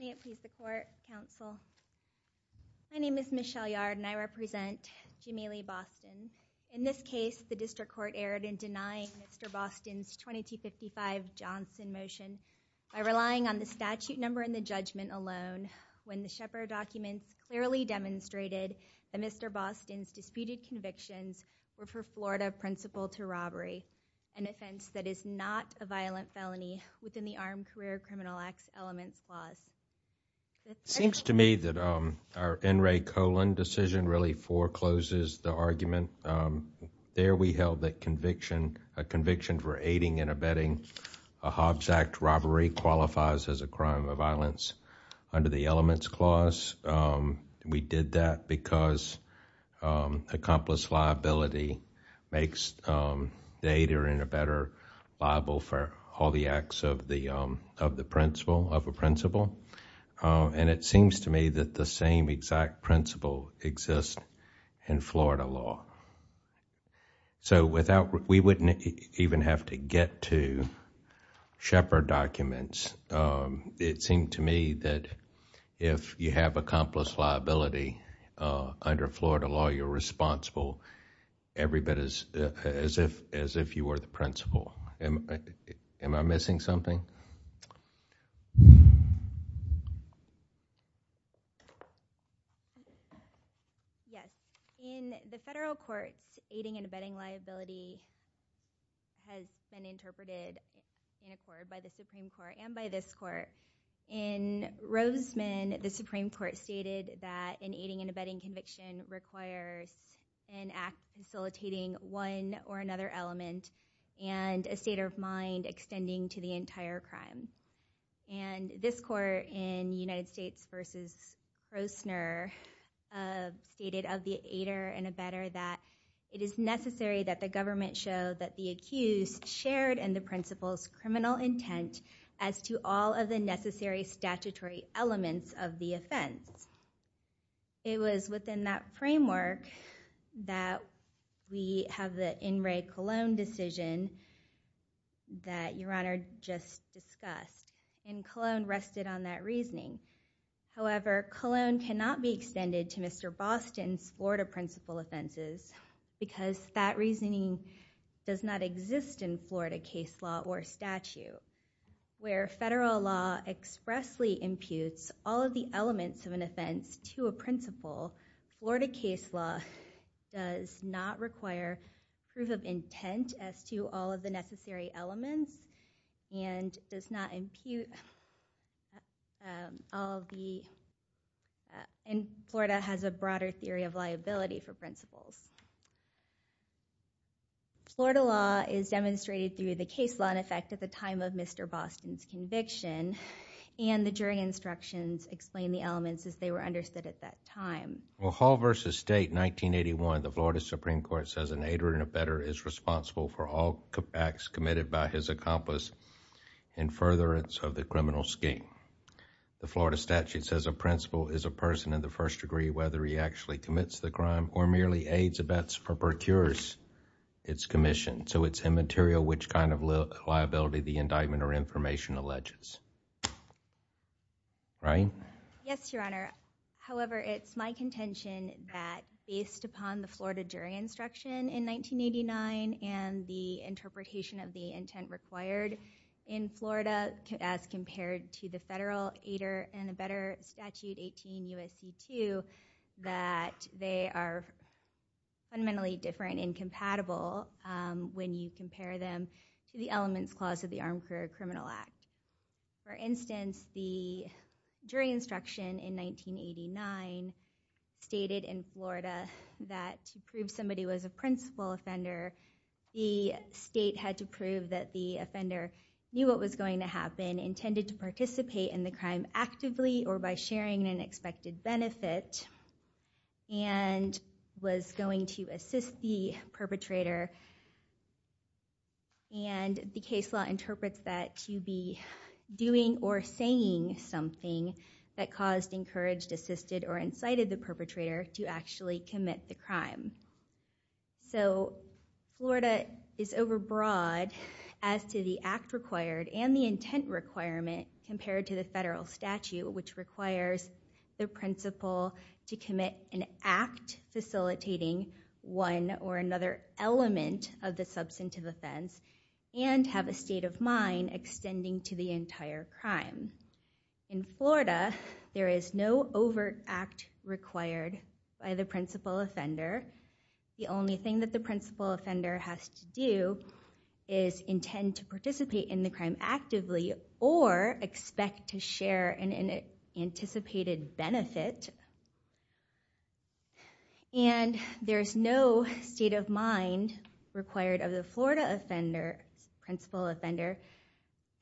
May it please the court, counsel. My name is Michelle Yard and I represent Jameelie Boston. In this case, the district court erred in denying Mr. Boston's 2255 Johnson motion by relying on the statute number and the judgment alone when the Shepard documents clearly demonstrated that Mr. Boston's disputed convictions were for Florida principal to robbery, an offense that is not a violent felony within the Armed Career Criminal Acts Elements Clause. Seems to me that our N. Ray Colon decision really forecloses the argument. There we held that conviction, a conviction for aiding and abetting a Hobbs Act robbery qualifies as a crime of violence under the Elements Clause. We did that because accomplice liability makes the aider and abetter liable for all the acts of the principal, of a principal. It seems to me that the same exact principle exists in Florida law. We wouldn't even have to get to Shepard documents. It seemed to me that if you have accomplice liability under Florida law, you're responsible every bit as if you were the principal. Am I missing something? Yes. In the federal courts, aiding and abetting liability has been interpreted in accord by the Supreme Court and by this court. In Roseman, the Supreme Court stated that an aiding and abetting conviction requires an act facilitating one or another element and a state of mind extending to the entire crime. This court in United States v. Roessner stated of the aider and abetter that it is necessary that the government show that the accused shared in the principal's criminal intent as to all of the necessary statutory elements of the just discussed. Cologne rested on that reasoning. However, Cologne cannot be extended to Mr. Boston's Florida principal offenses because that reasoning does not exist in Florida case law or statute where federal law expressly imputes all of the elements of an offense to a principal. Florida case law does not require proof of intent as to all of the necessary elements and does not impute. Florida has a broader theory of liability for principals. Florida law is demonstrated through the case law in effect at the time of Mr. Boston's conviction and the jury instructions explain the elements as they were understood at that time. Well, Hall v. State, 1981, the Florida Supreme Court says an aider and abetter is responsible for all acts committed by his accomplice in furtherance of the criminal scheme. The Florida statute says a principal is a person in the first degree whether he actually commits the crime or merely aids abets or procures its commission. So it's immaterial which kind of liability the indictment or information alleges. Ryan? Yes, Your Honor. However, it's my contention that based upon the Florida jury instruction in 1989 and the interpretation of the intent required in Florida as compared to the federal aider and abetter statute 18 U.S.C. 2 that they are fundamentally different and compatible when you compare them to the elements clause of the Armed Police Act. The Florida jury instruction in 1989 stated in Florida that to prove somebody was a principal offender, the state had to prove that the offender knew what was going to happen, intended to participate in the crime actively or by sharing an expected benefit, and was going to assist the perpetrator. And the case law interprets that to be doing or saying something that caused, encouraged, assisted, or incited the perpetrator to actually commit the crime. So Florida is overbroad as to the act required and the intent requirement compared to the federal statute which requires the principal to commit an act facilitating one or another element of the substantive offense and have a mind extending to the entire crime. In Florida, there is no overt act required by the principal offender. The only thing that the principal offender has to do is intend to participate in the crime actively or expect to share an anticipated benefit. And there is no state of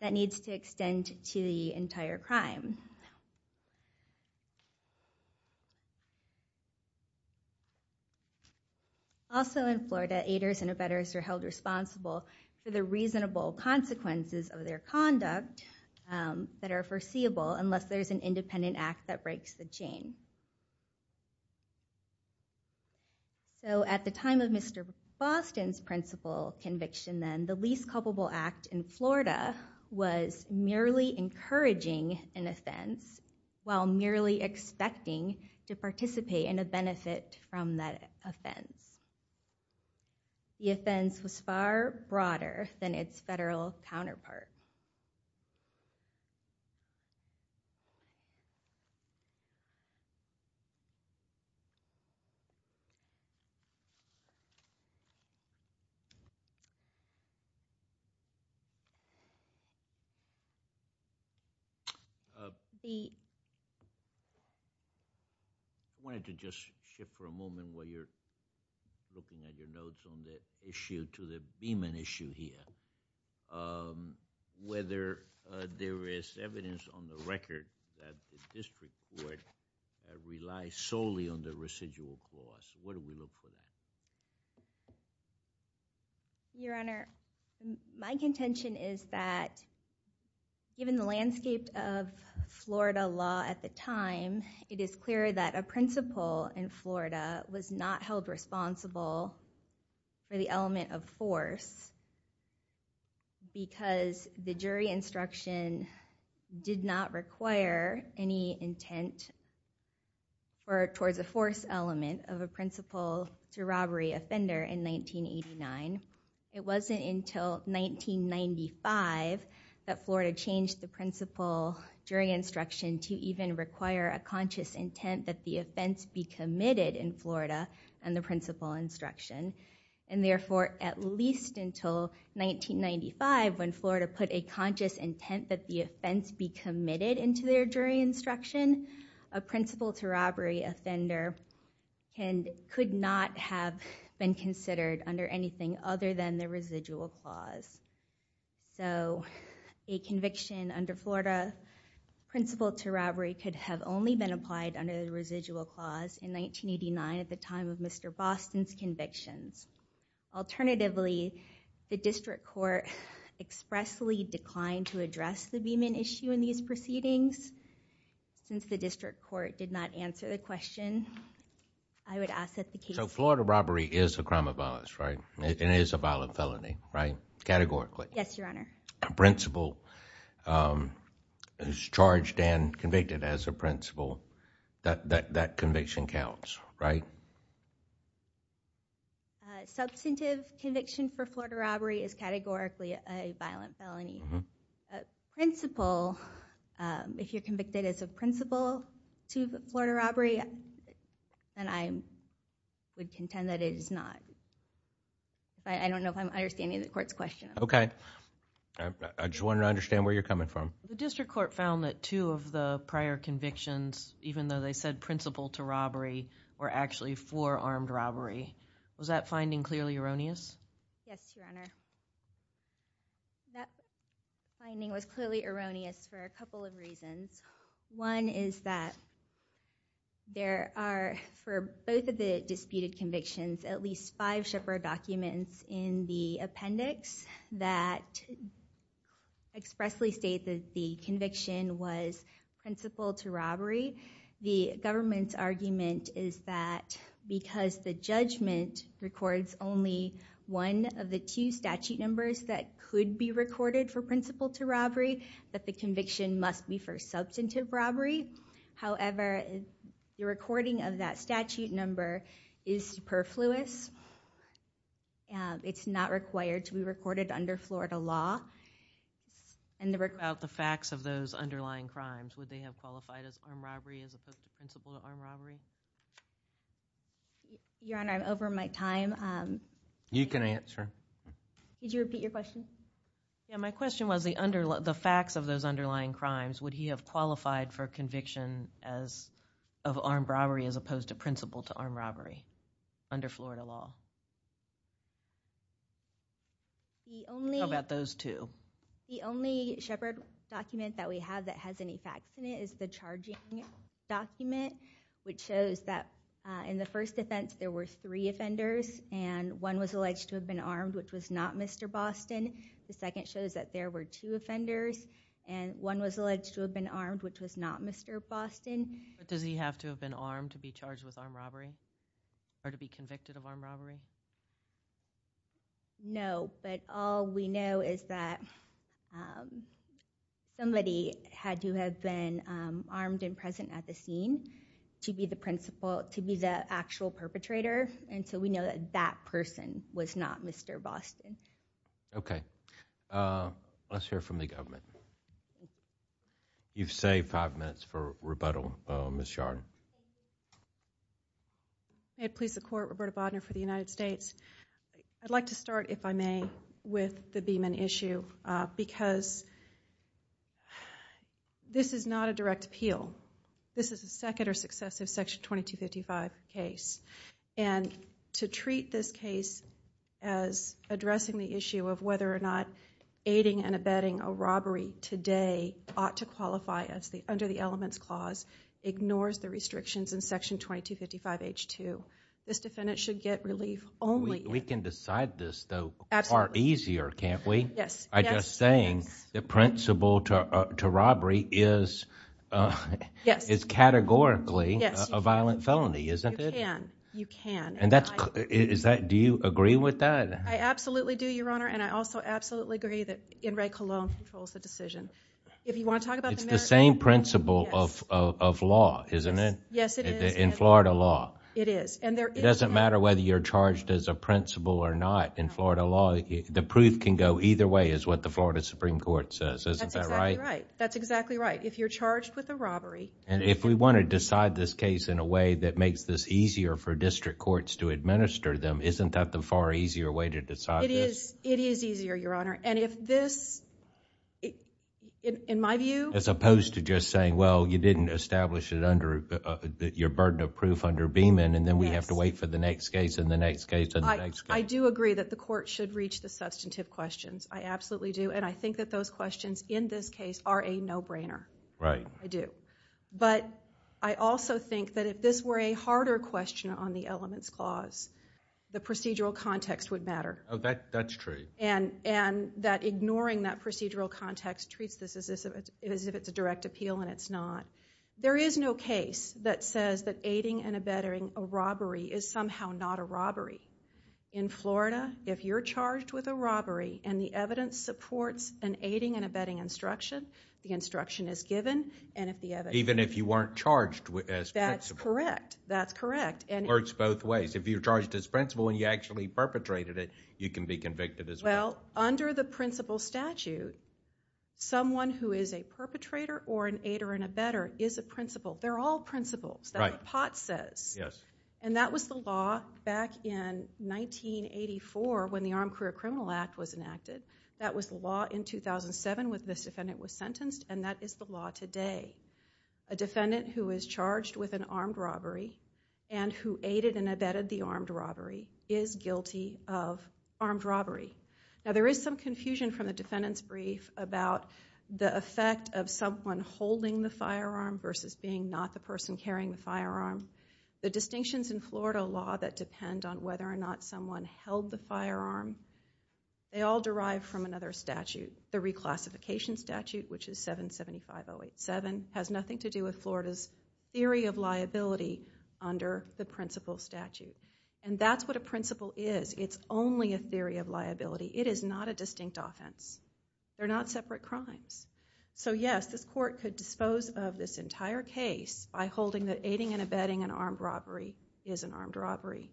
that needs to extend to the entire crime. Also in Florida, aiders and abettors are held responsible for the reasonable consequences of their conduct that are foreseeable unless there's an independent act that breaks the chain. So at the time of Mr. Boston's principal conviction then, the least culpable act in Florida was merely encouraging an offense while merely expecting to participate in a benefit from that offense. The offense was far broader than its federal counterpart. I wanted to just shift for a moment while you're looking at your notes on the issue to the Beeman issue here. Whether there is evidence on the record that the district court relies solely on the residual cost, what do we look for? Your Honor, my contention is that given the landscape of Florida law at the time, it is clear that a principal in Florida was not held responsible for the element of force because the jury instruction did not require any intent or towards a force element of a principal to robbery offender in 1989. It wasn't until 1995 that Florida changed the principal jury instruction to even require a conscious intent that the offense be committed in Florida and the principal instruction. And therefore, at least until 1995 when Florida put a conscious intent that the offense be committed into their jury instruction, a principal to robbery offender could not have been considered under anything other than the residual clause. So a conviction under Florida principal to robbery could have only been applied under the residual clause in 1989 at the time of Mr. Boston's convictions. Alternatively, the district court expressly declined to address the Beeman issue in these court did not answer the question. I would ask that the case. So Florida robbery is a crime of violence, right? It is a violent felony, right? Categorically. Yes, Your Honor. A principal is charged and convicted as a principal that that conviction counts, right? Substantive conviction for Florida robbery is categorically a violent felony. A principal, um, if you're convicted as a principal to the Florida robbery, and I would contend that it is not. I don't know if I'm understanding the court's question. Okay, I just want to understand where you're coming from. The district court found that two of the prior convictions, even though they said principal to robbery, were actually for armed robbery. Was that finding clearly erroneous? Yes, Your Honor. That finding was clearly erroneous for a couple of reasons. One is that there are, for both of the disputed convictions, at least five Shepard documents in the appendix that expressly state that the conviction was principal to robbery. The government's argument is that because the judgment records only one of the two statute numbers that could be recorded for principal to robbery, that the conviction must be for substantive robbery. However, the recording of that statute number is superfluous. It's not required to be recorded under Florida law. And about the facts of those underlying crimes, would they have qualified as Your Honor, I'm over my time. You can answer. Did you repeat your question? Yeah, my question was the facts of those underlying crimes, would he have qualified for conviction of armed robbery as opposed to principal to armed robbery under Florida law? How about those two? The only Shepard document that we have that has any facts in it is the in the first defense, there were three offenders and one was alleged to have been armed, which was not Mr. Boston. The second shows that there were two offenders and one was alleged to have been armed, which was not Mr. Boston. But does he have to have been armed to be charged with armed robbery or to be convicted of armed robbery? No, but all we know is that somebody had to have been armed and present at the scene to be the principal, to be the actual perpetrator. And so we know that that person was not Mr. Boston. Okay, let's hear from the government. You've saved five minutes for rebuttal, Ms. Yard. May it please the court, Roberta Bodner for the United States. I'd like to start, if I may, with the Beeman issue because this is not a direct appeal. This is a second or successive section 2255 case. And to treat this case as addressing the issue of whether or not aiding and abetting a robbery today ought to qualify as the under the elements clause ignores the restrictions in section 2255 H2. This defendant should get relief only. We can decide this though far easier, can't we? I'm just saying the principle to robbery is categorically a violent felony, isn't it? You can, you can. Do you agree with that? I absolutely do, Your Honor. And I also absolutely agree that In re Cologne controls the decision. It's the same principle of law, isn't it? Yes, it is. In Florida law. It doesn't matter whether you're charged as a principal or not. In Florida law, the proof can go either way is what the Florida Supreme Court says, isn't that right? That's exactly right. If you're charged with a robbery. And if we want to decide this case in a way that makes this easier for district courts to administer them, isn't that the far easier way to decide? It is. It is easier, Your Honor. And if this, in my view, as opposed to just saying, well, you didn't establish it under your burden of proof and then we have to wait for the next case and the next case and the next case. I do agree that the court should reach the substantive questions. I absolutely do. And I think that those questions in this case are a no-brainer. Right. I do. But I also think that if this were a harder question on the elements clause, the procedural context would matter. Oh, that's true. And that ignoring that procedural context treats this as if it's a direct appeal and it's not. There is no case that says that aiding and abetting a robbery is somehow not a robbery. In Florida, if you're charged with a robbery and the evidence supports an aiding and abetting instruction, the instruction is given and if the evidence... Even if you weren't charged as principal. That's correct. That's correct. And... Works both ways. If you're charged as principal and you actually perpetrated it, you can be convicted as well. Well, under the principal statute, someone who is a perpetrator or an aider and abetter is a principal. They're all principals. That's what Potts says. Yes. And that was the law back in 1984 when the Armed Career Criminal Act was enacted. That was the law in 2007 when this defendant was sentenced and that is the law today. A defendant who is charged with an armed robbery and who aided and abetted the armed robbery is guilty of armed the firearm versus being not the person carrying the firearm. The distinctions in Florida law that depend on whether or not someone held the firearm, they all derive from another statute. The reclassification statute, which is 775-087, has nothing to do with Florida's theory of liability under the principal statute. And that's what a principal is. It's only a theory of liability. It of this entire case by holding that aiding and abetting an armed robbery is an armed robbery.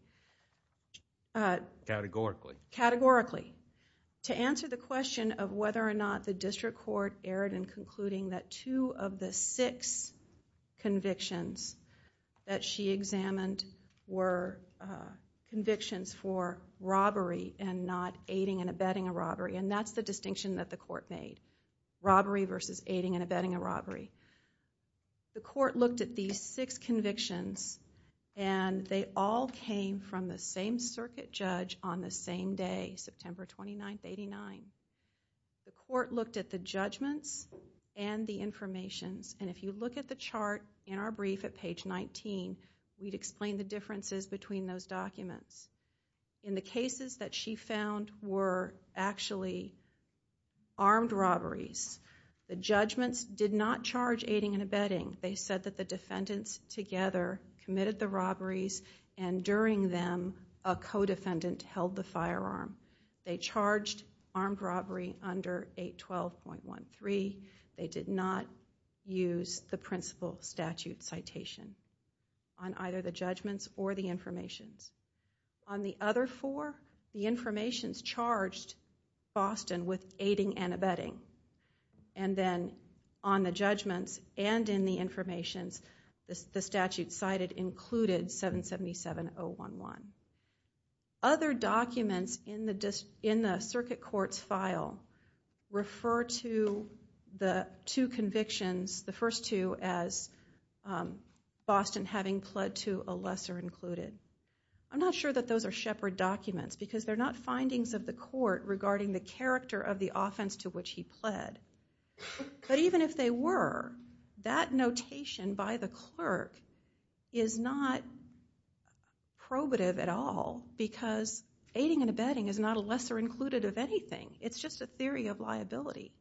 Categorically. Categorically. To answer the question of whether or not the district court erred in concluding that two of the six convictions that she examined were convictions for robbery and not aiding and abetting a robbery. And that's the distinction that the court made. Robbery versus aiding and abetting a robbery. The court looked at these six convictions and they all came from the same circuit judge on the same day, September 29th, 89. The court looked at the judgments and the information. And if you look at the chart in our brief at page 19, we'd explain the differences between those documents. In the cases that she found were actually armed robberies, the judgments did not charge aiding and abetting. They said that the defendants together committed the robberies and during them a co-defendant held the firearm. They charged armed robbery under 812.13. They did not use the principal statute citation on either the judgments or the information. On the other four, the information charged Boston with aiding and abetting. And then on the judgments and in the information, the statute cited included 777.011. Other documents in the circuit court's file refer to the two convictions, the first two, as Boston having pled to a lesser included. I'm not sure that those are shepherd documents because they're not findings of the court regarding the character of the offense to which he pled. But even if they were, that notation by the clerk is not probative at all because aiding and abetting is not a lesser included of anything. It's just a theory of liability.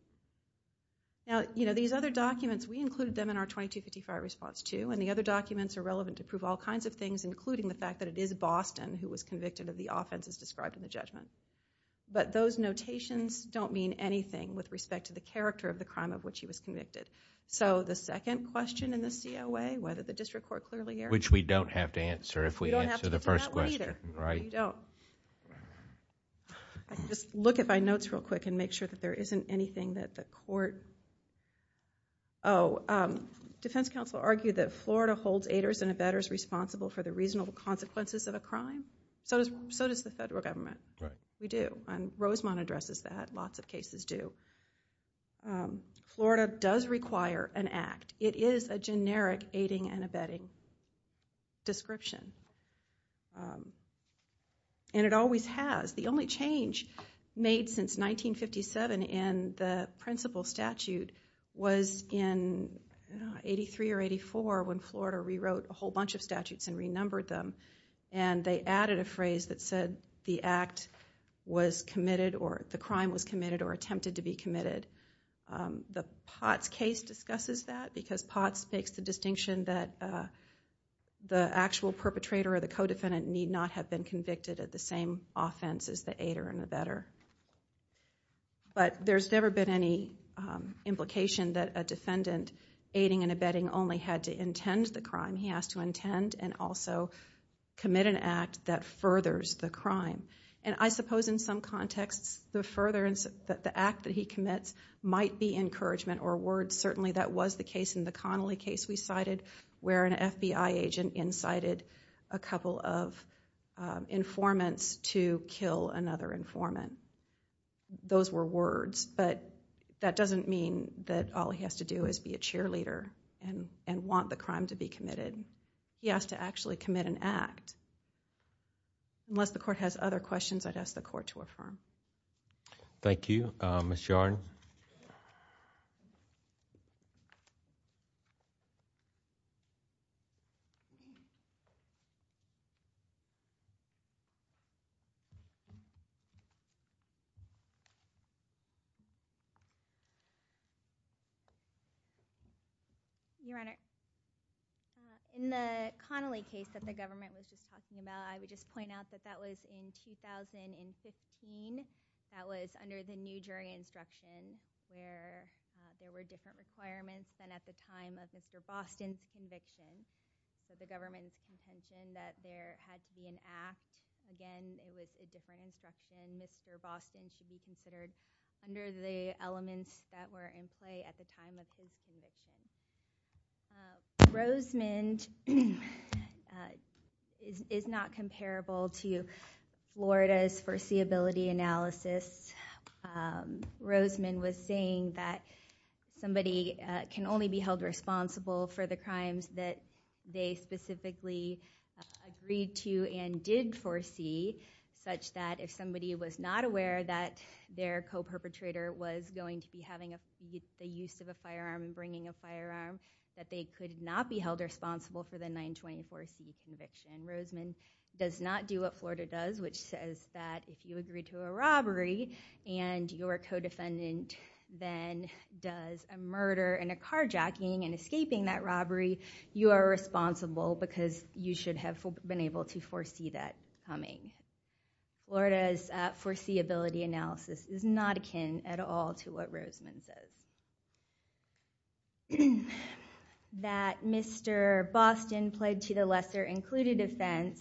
These other documents, we included them in our 2255 response too and the other documents are relevant to prove all kinds of things including the fact that it is Boston who was convicted of the offenses described in the judgment. But those notations don't mean anything with respect to the character of the crime of which he was convicted. So the second question in the COA, whether the district court clearly erred. Which we don't have to answer if the first question, right? I can just look at my notes real quick and make sure that there isn't anything that the court, oh, defense counsel argued that Florida holds aiders and abettors responsible for the reasonable consequences of a crime. So does the federal government. We do. And Rosemont addresses that. Lots of cases do. Florida does require an act. It is a generic aiding and abetting description. And it always has. The only change made since 1957 in the principle statute was in 83 or 84 when Florida rewrote a whole bunch of statutes and renumbered them and they added a phrase that said the act was committed or the crime was committed or attempted to be committed. The Potts case discusses that because Potts makes the distinction that the actual perpetrator or the co-defendant need not have been convicted of the same offense as the aider and abettor. But there's never been any implication that a defendant aiding and abetting only had to intend the crime. He has to intend and also commit an act that he commits might be encouragement or words. Certainly that was the case in the Connelly case we cited where an FBI agent incited a couple of informants to kill another informant. Those were words. But that doesn't mean that all he has to do is be a cheerleader and want the crime to be committed. He has to actually commit an act. Unless the court has other questions, I'd ask the court to affirm. Thank you. Ms. Yarn? Your Honor, in the Connelly case that the government was just talking about, I would point out that that was in 2015. That was under the new jury instruction where there were different requirements than at the time of Mr. Boston's conviction. The government's intention that there had to be an act. Again, it was a different instruction. Mr. Boston should be considered under the elements that were in play at the time of his conviction. Rosemond is not comparable to Florida's foreseeability analysis. Rosemond was saying that somebody can only be held responsible for the crimes that they specifically agreed to and did foresee, such that if somebody was not aware that their co-perpetrator was going to be having the use of a firearm and bringing a firearm, that they could not be held responsible for the 924C conviction. Rosemond does not do what Florida does, which says that if you agree to a robbery and your co-defendant then does a murder and a carjacking and escaping that robbery, you are responsible because you should have been able to foresee that coming. Florida's foreseeability analysis is not akin at all to what Rosemond says. That Mr. Boston pled to the lesser included offense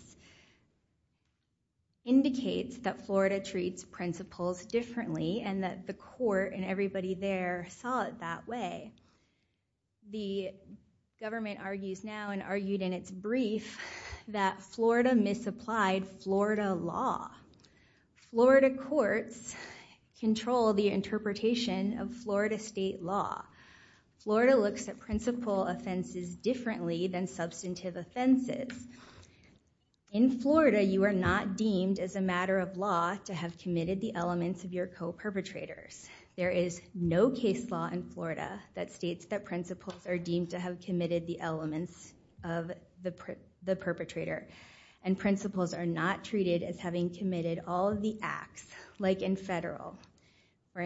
indicates that Florida treats principles differently and that the court and everybody there saw it that way. The government argues now and argued in its brief that Florida misapplied Florida law. Florida courts control the interpretation of Florida state law. Florida looks at principle offenses differently than substantive offenses. In Florida, you are not deemed as a matter of law to have committed the elements of your co-perpetrators. There is no case law in Florida that states that principles are deemed to have treated as having committed all of the acts, like in federal. For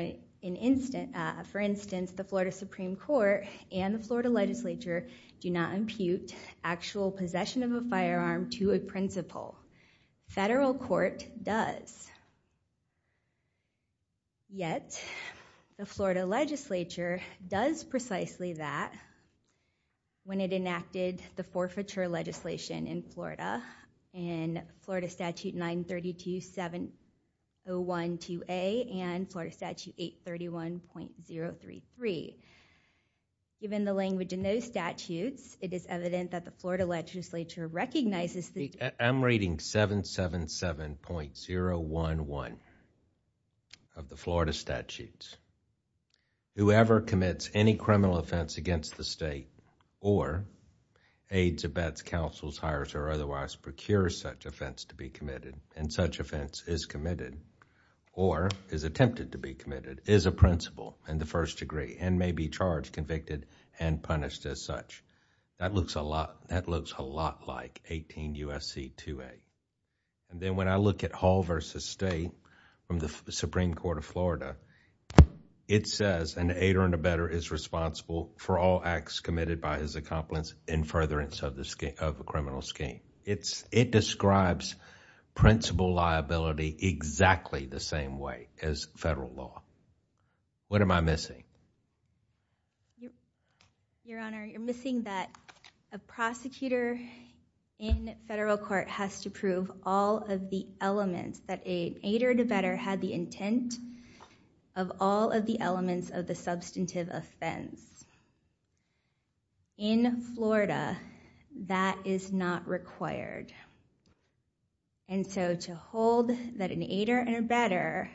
instance, the Florida Supreme Court and the Florida legislature do not impute actual possession of a firearm to a principal. Federal court does. Yet, the Florida legislature does precisely that when it enacted the forfeiture legislation in Florida in Florida statute 932-7012A and Florida statute 831.033. Given the language in those statutes, it is evident that the Florida legislature recognizes... I'm reading 777.011 of the Florida statutes. Whoever commits any criminal offense against the state or aids, abets, counsels, hires, or otherwise procures such offense to be committed and such offense is committed or is attempted to be committed is a principal in the first degree and may be charged, convicted, and punished as such. That looks a lot like 18 U.S.C. 2A. Then when I look at Hall versus State from the Supreme Court of Florida, it says an aider and abetter is responsible for all acts committed by his accomplice in furtherance of the criminal scheme. It describes principal liability exactly the same way as federal law. What am I missing? Your Honor, you're missing that a prosecutor in federal court has to prove all of the elements that an aider and abetter had the intent of all of the elements of the substantive offense. In Florida, that is not required. And so to hold that an aider and abetter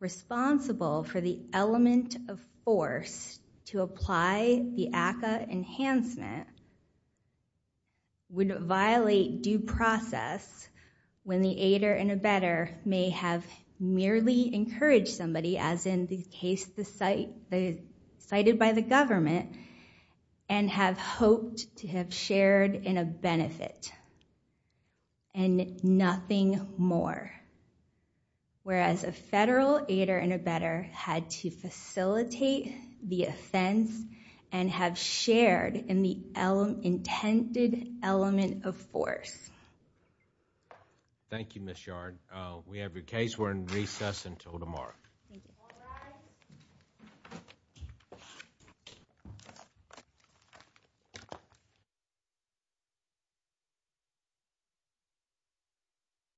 responsible for the element of force to apply the ACCA enhancement would violate due process when the aider and abetter may have merely encouraged somebody, as in the case cited by the government, and have hoped to have shared in a benefit and nothing more. Whereas a federal aider and abetter had to facilitate the offense and have shared in the intended element of force. Thank you, Ms. Yard. We have your case. We're in recess until tomorrow.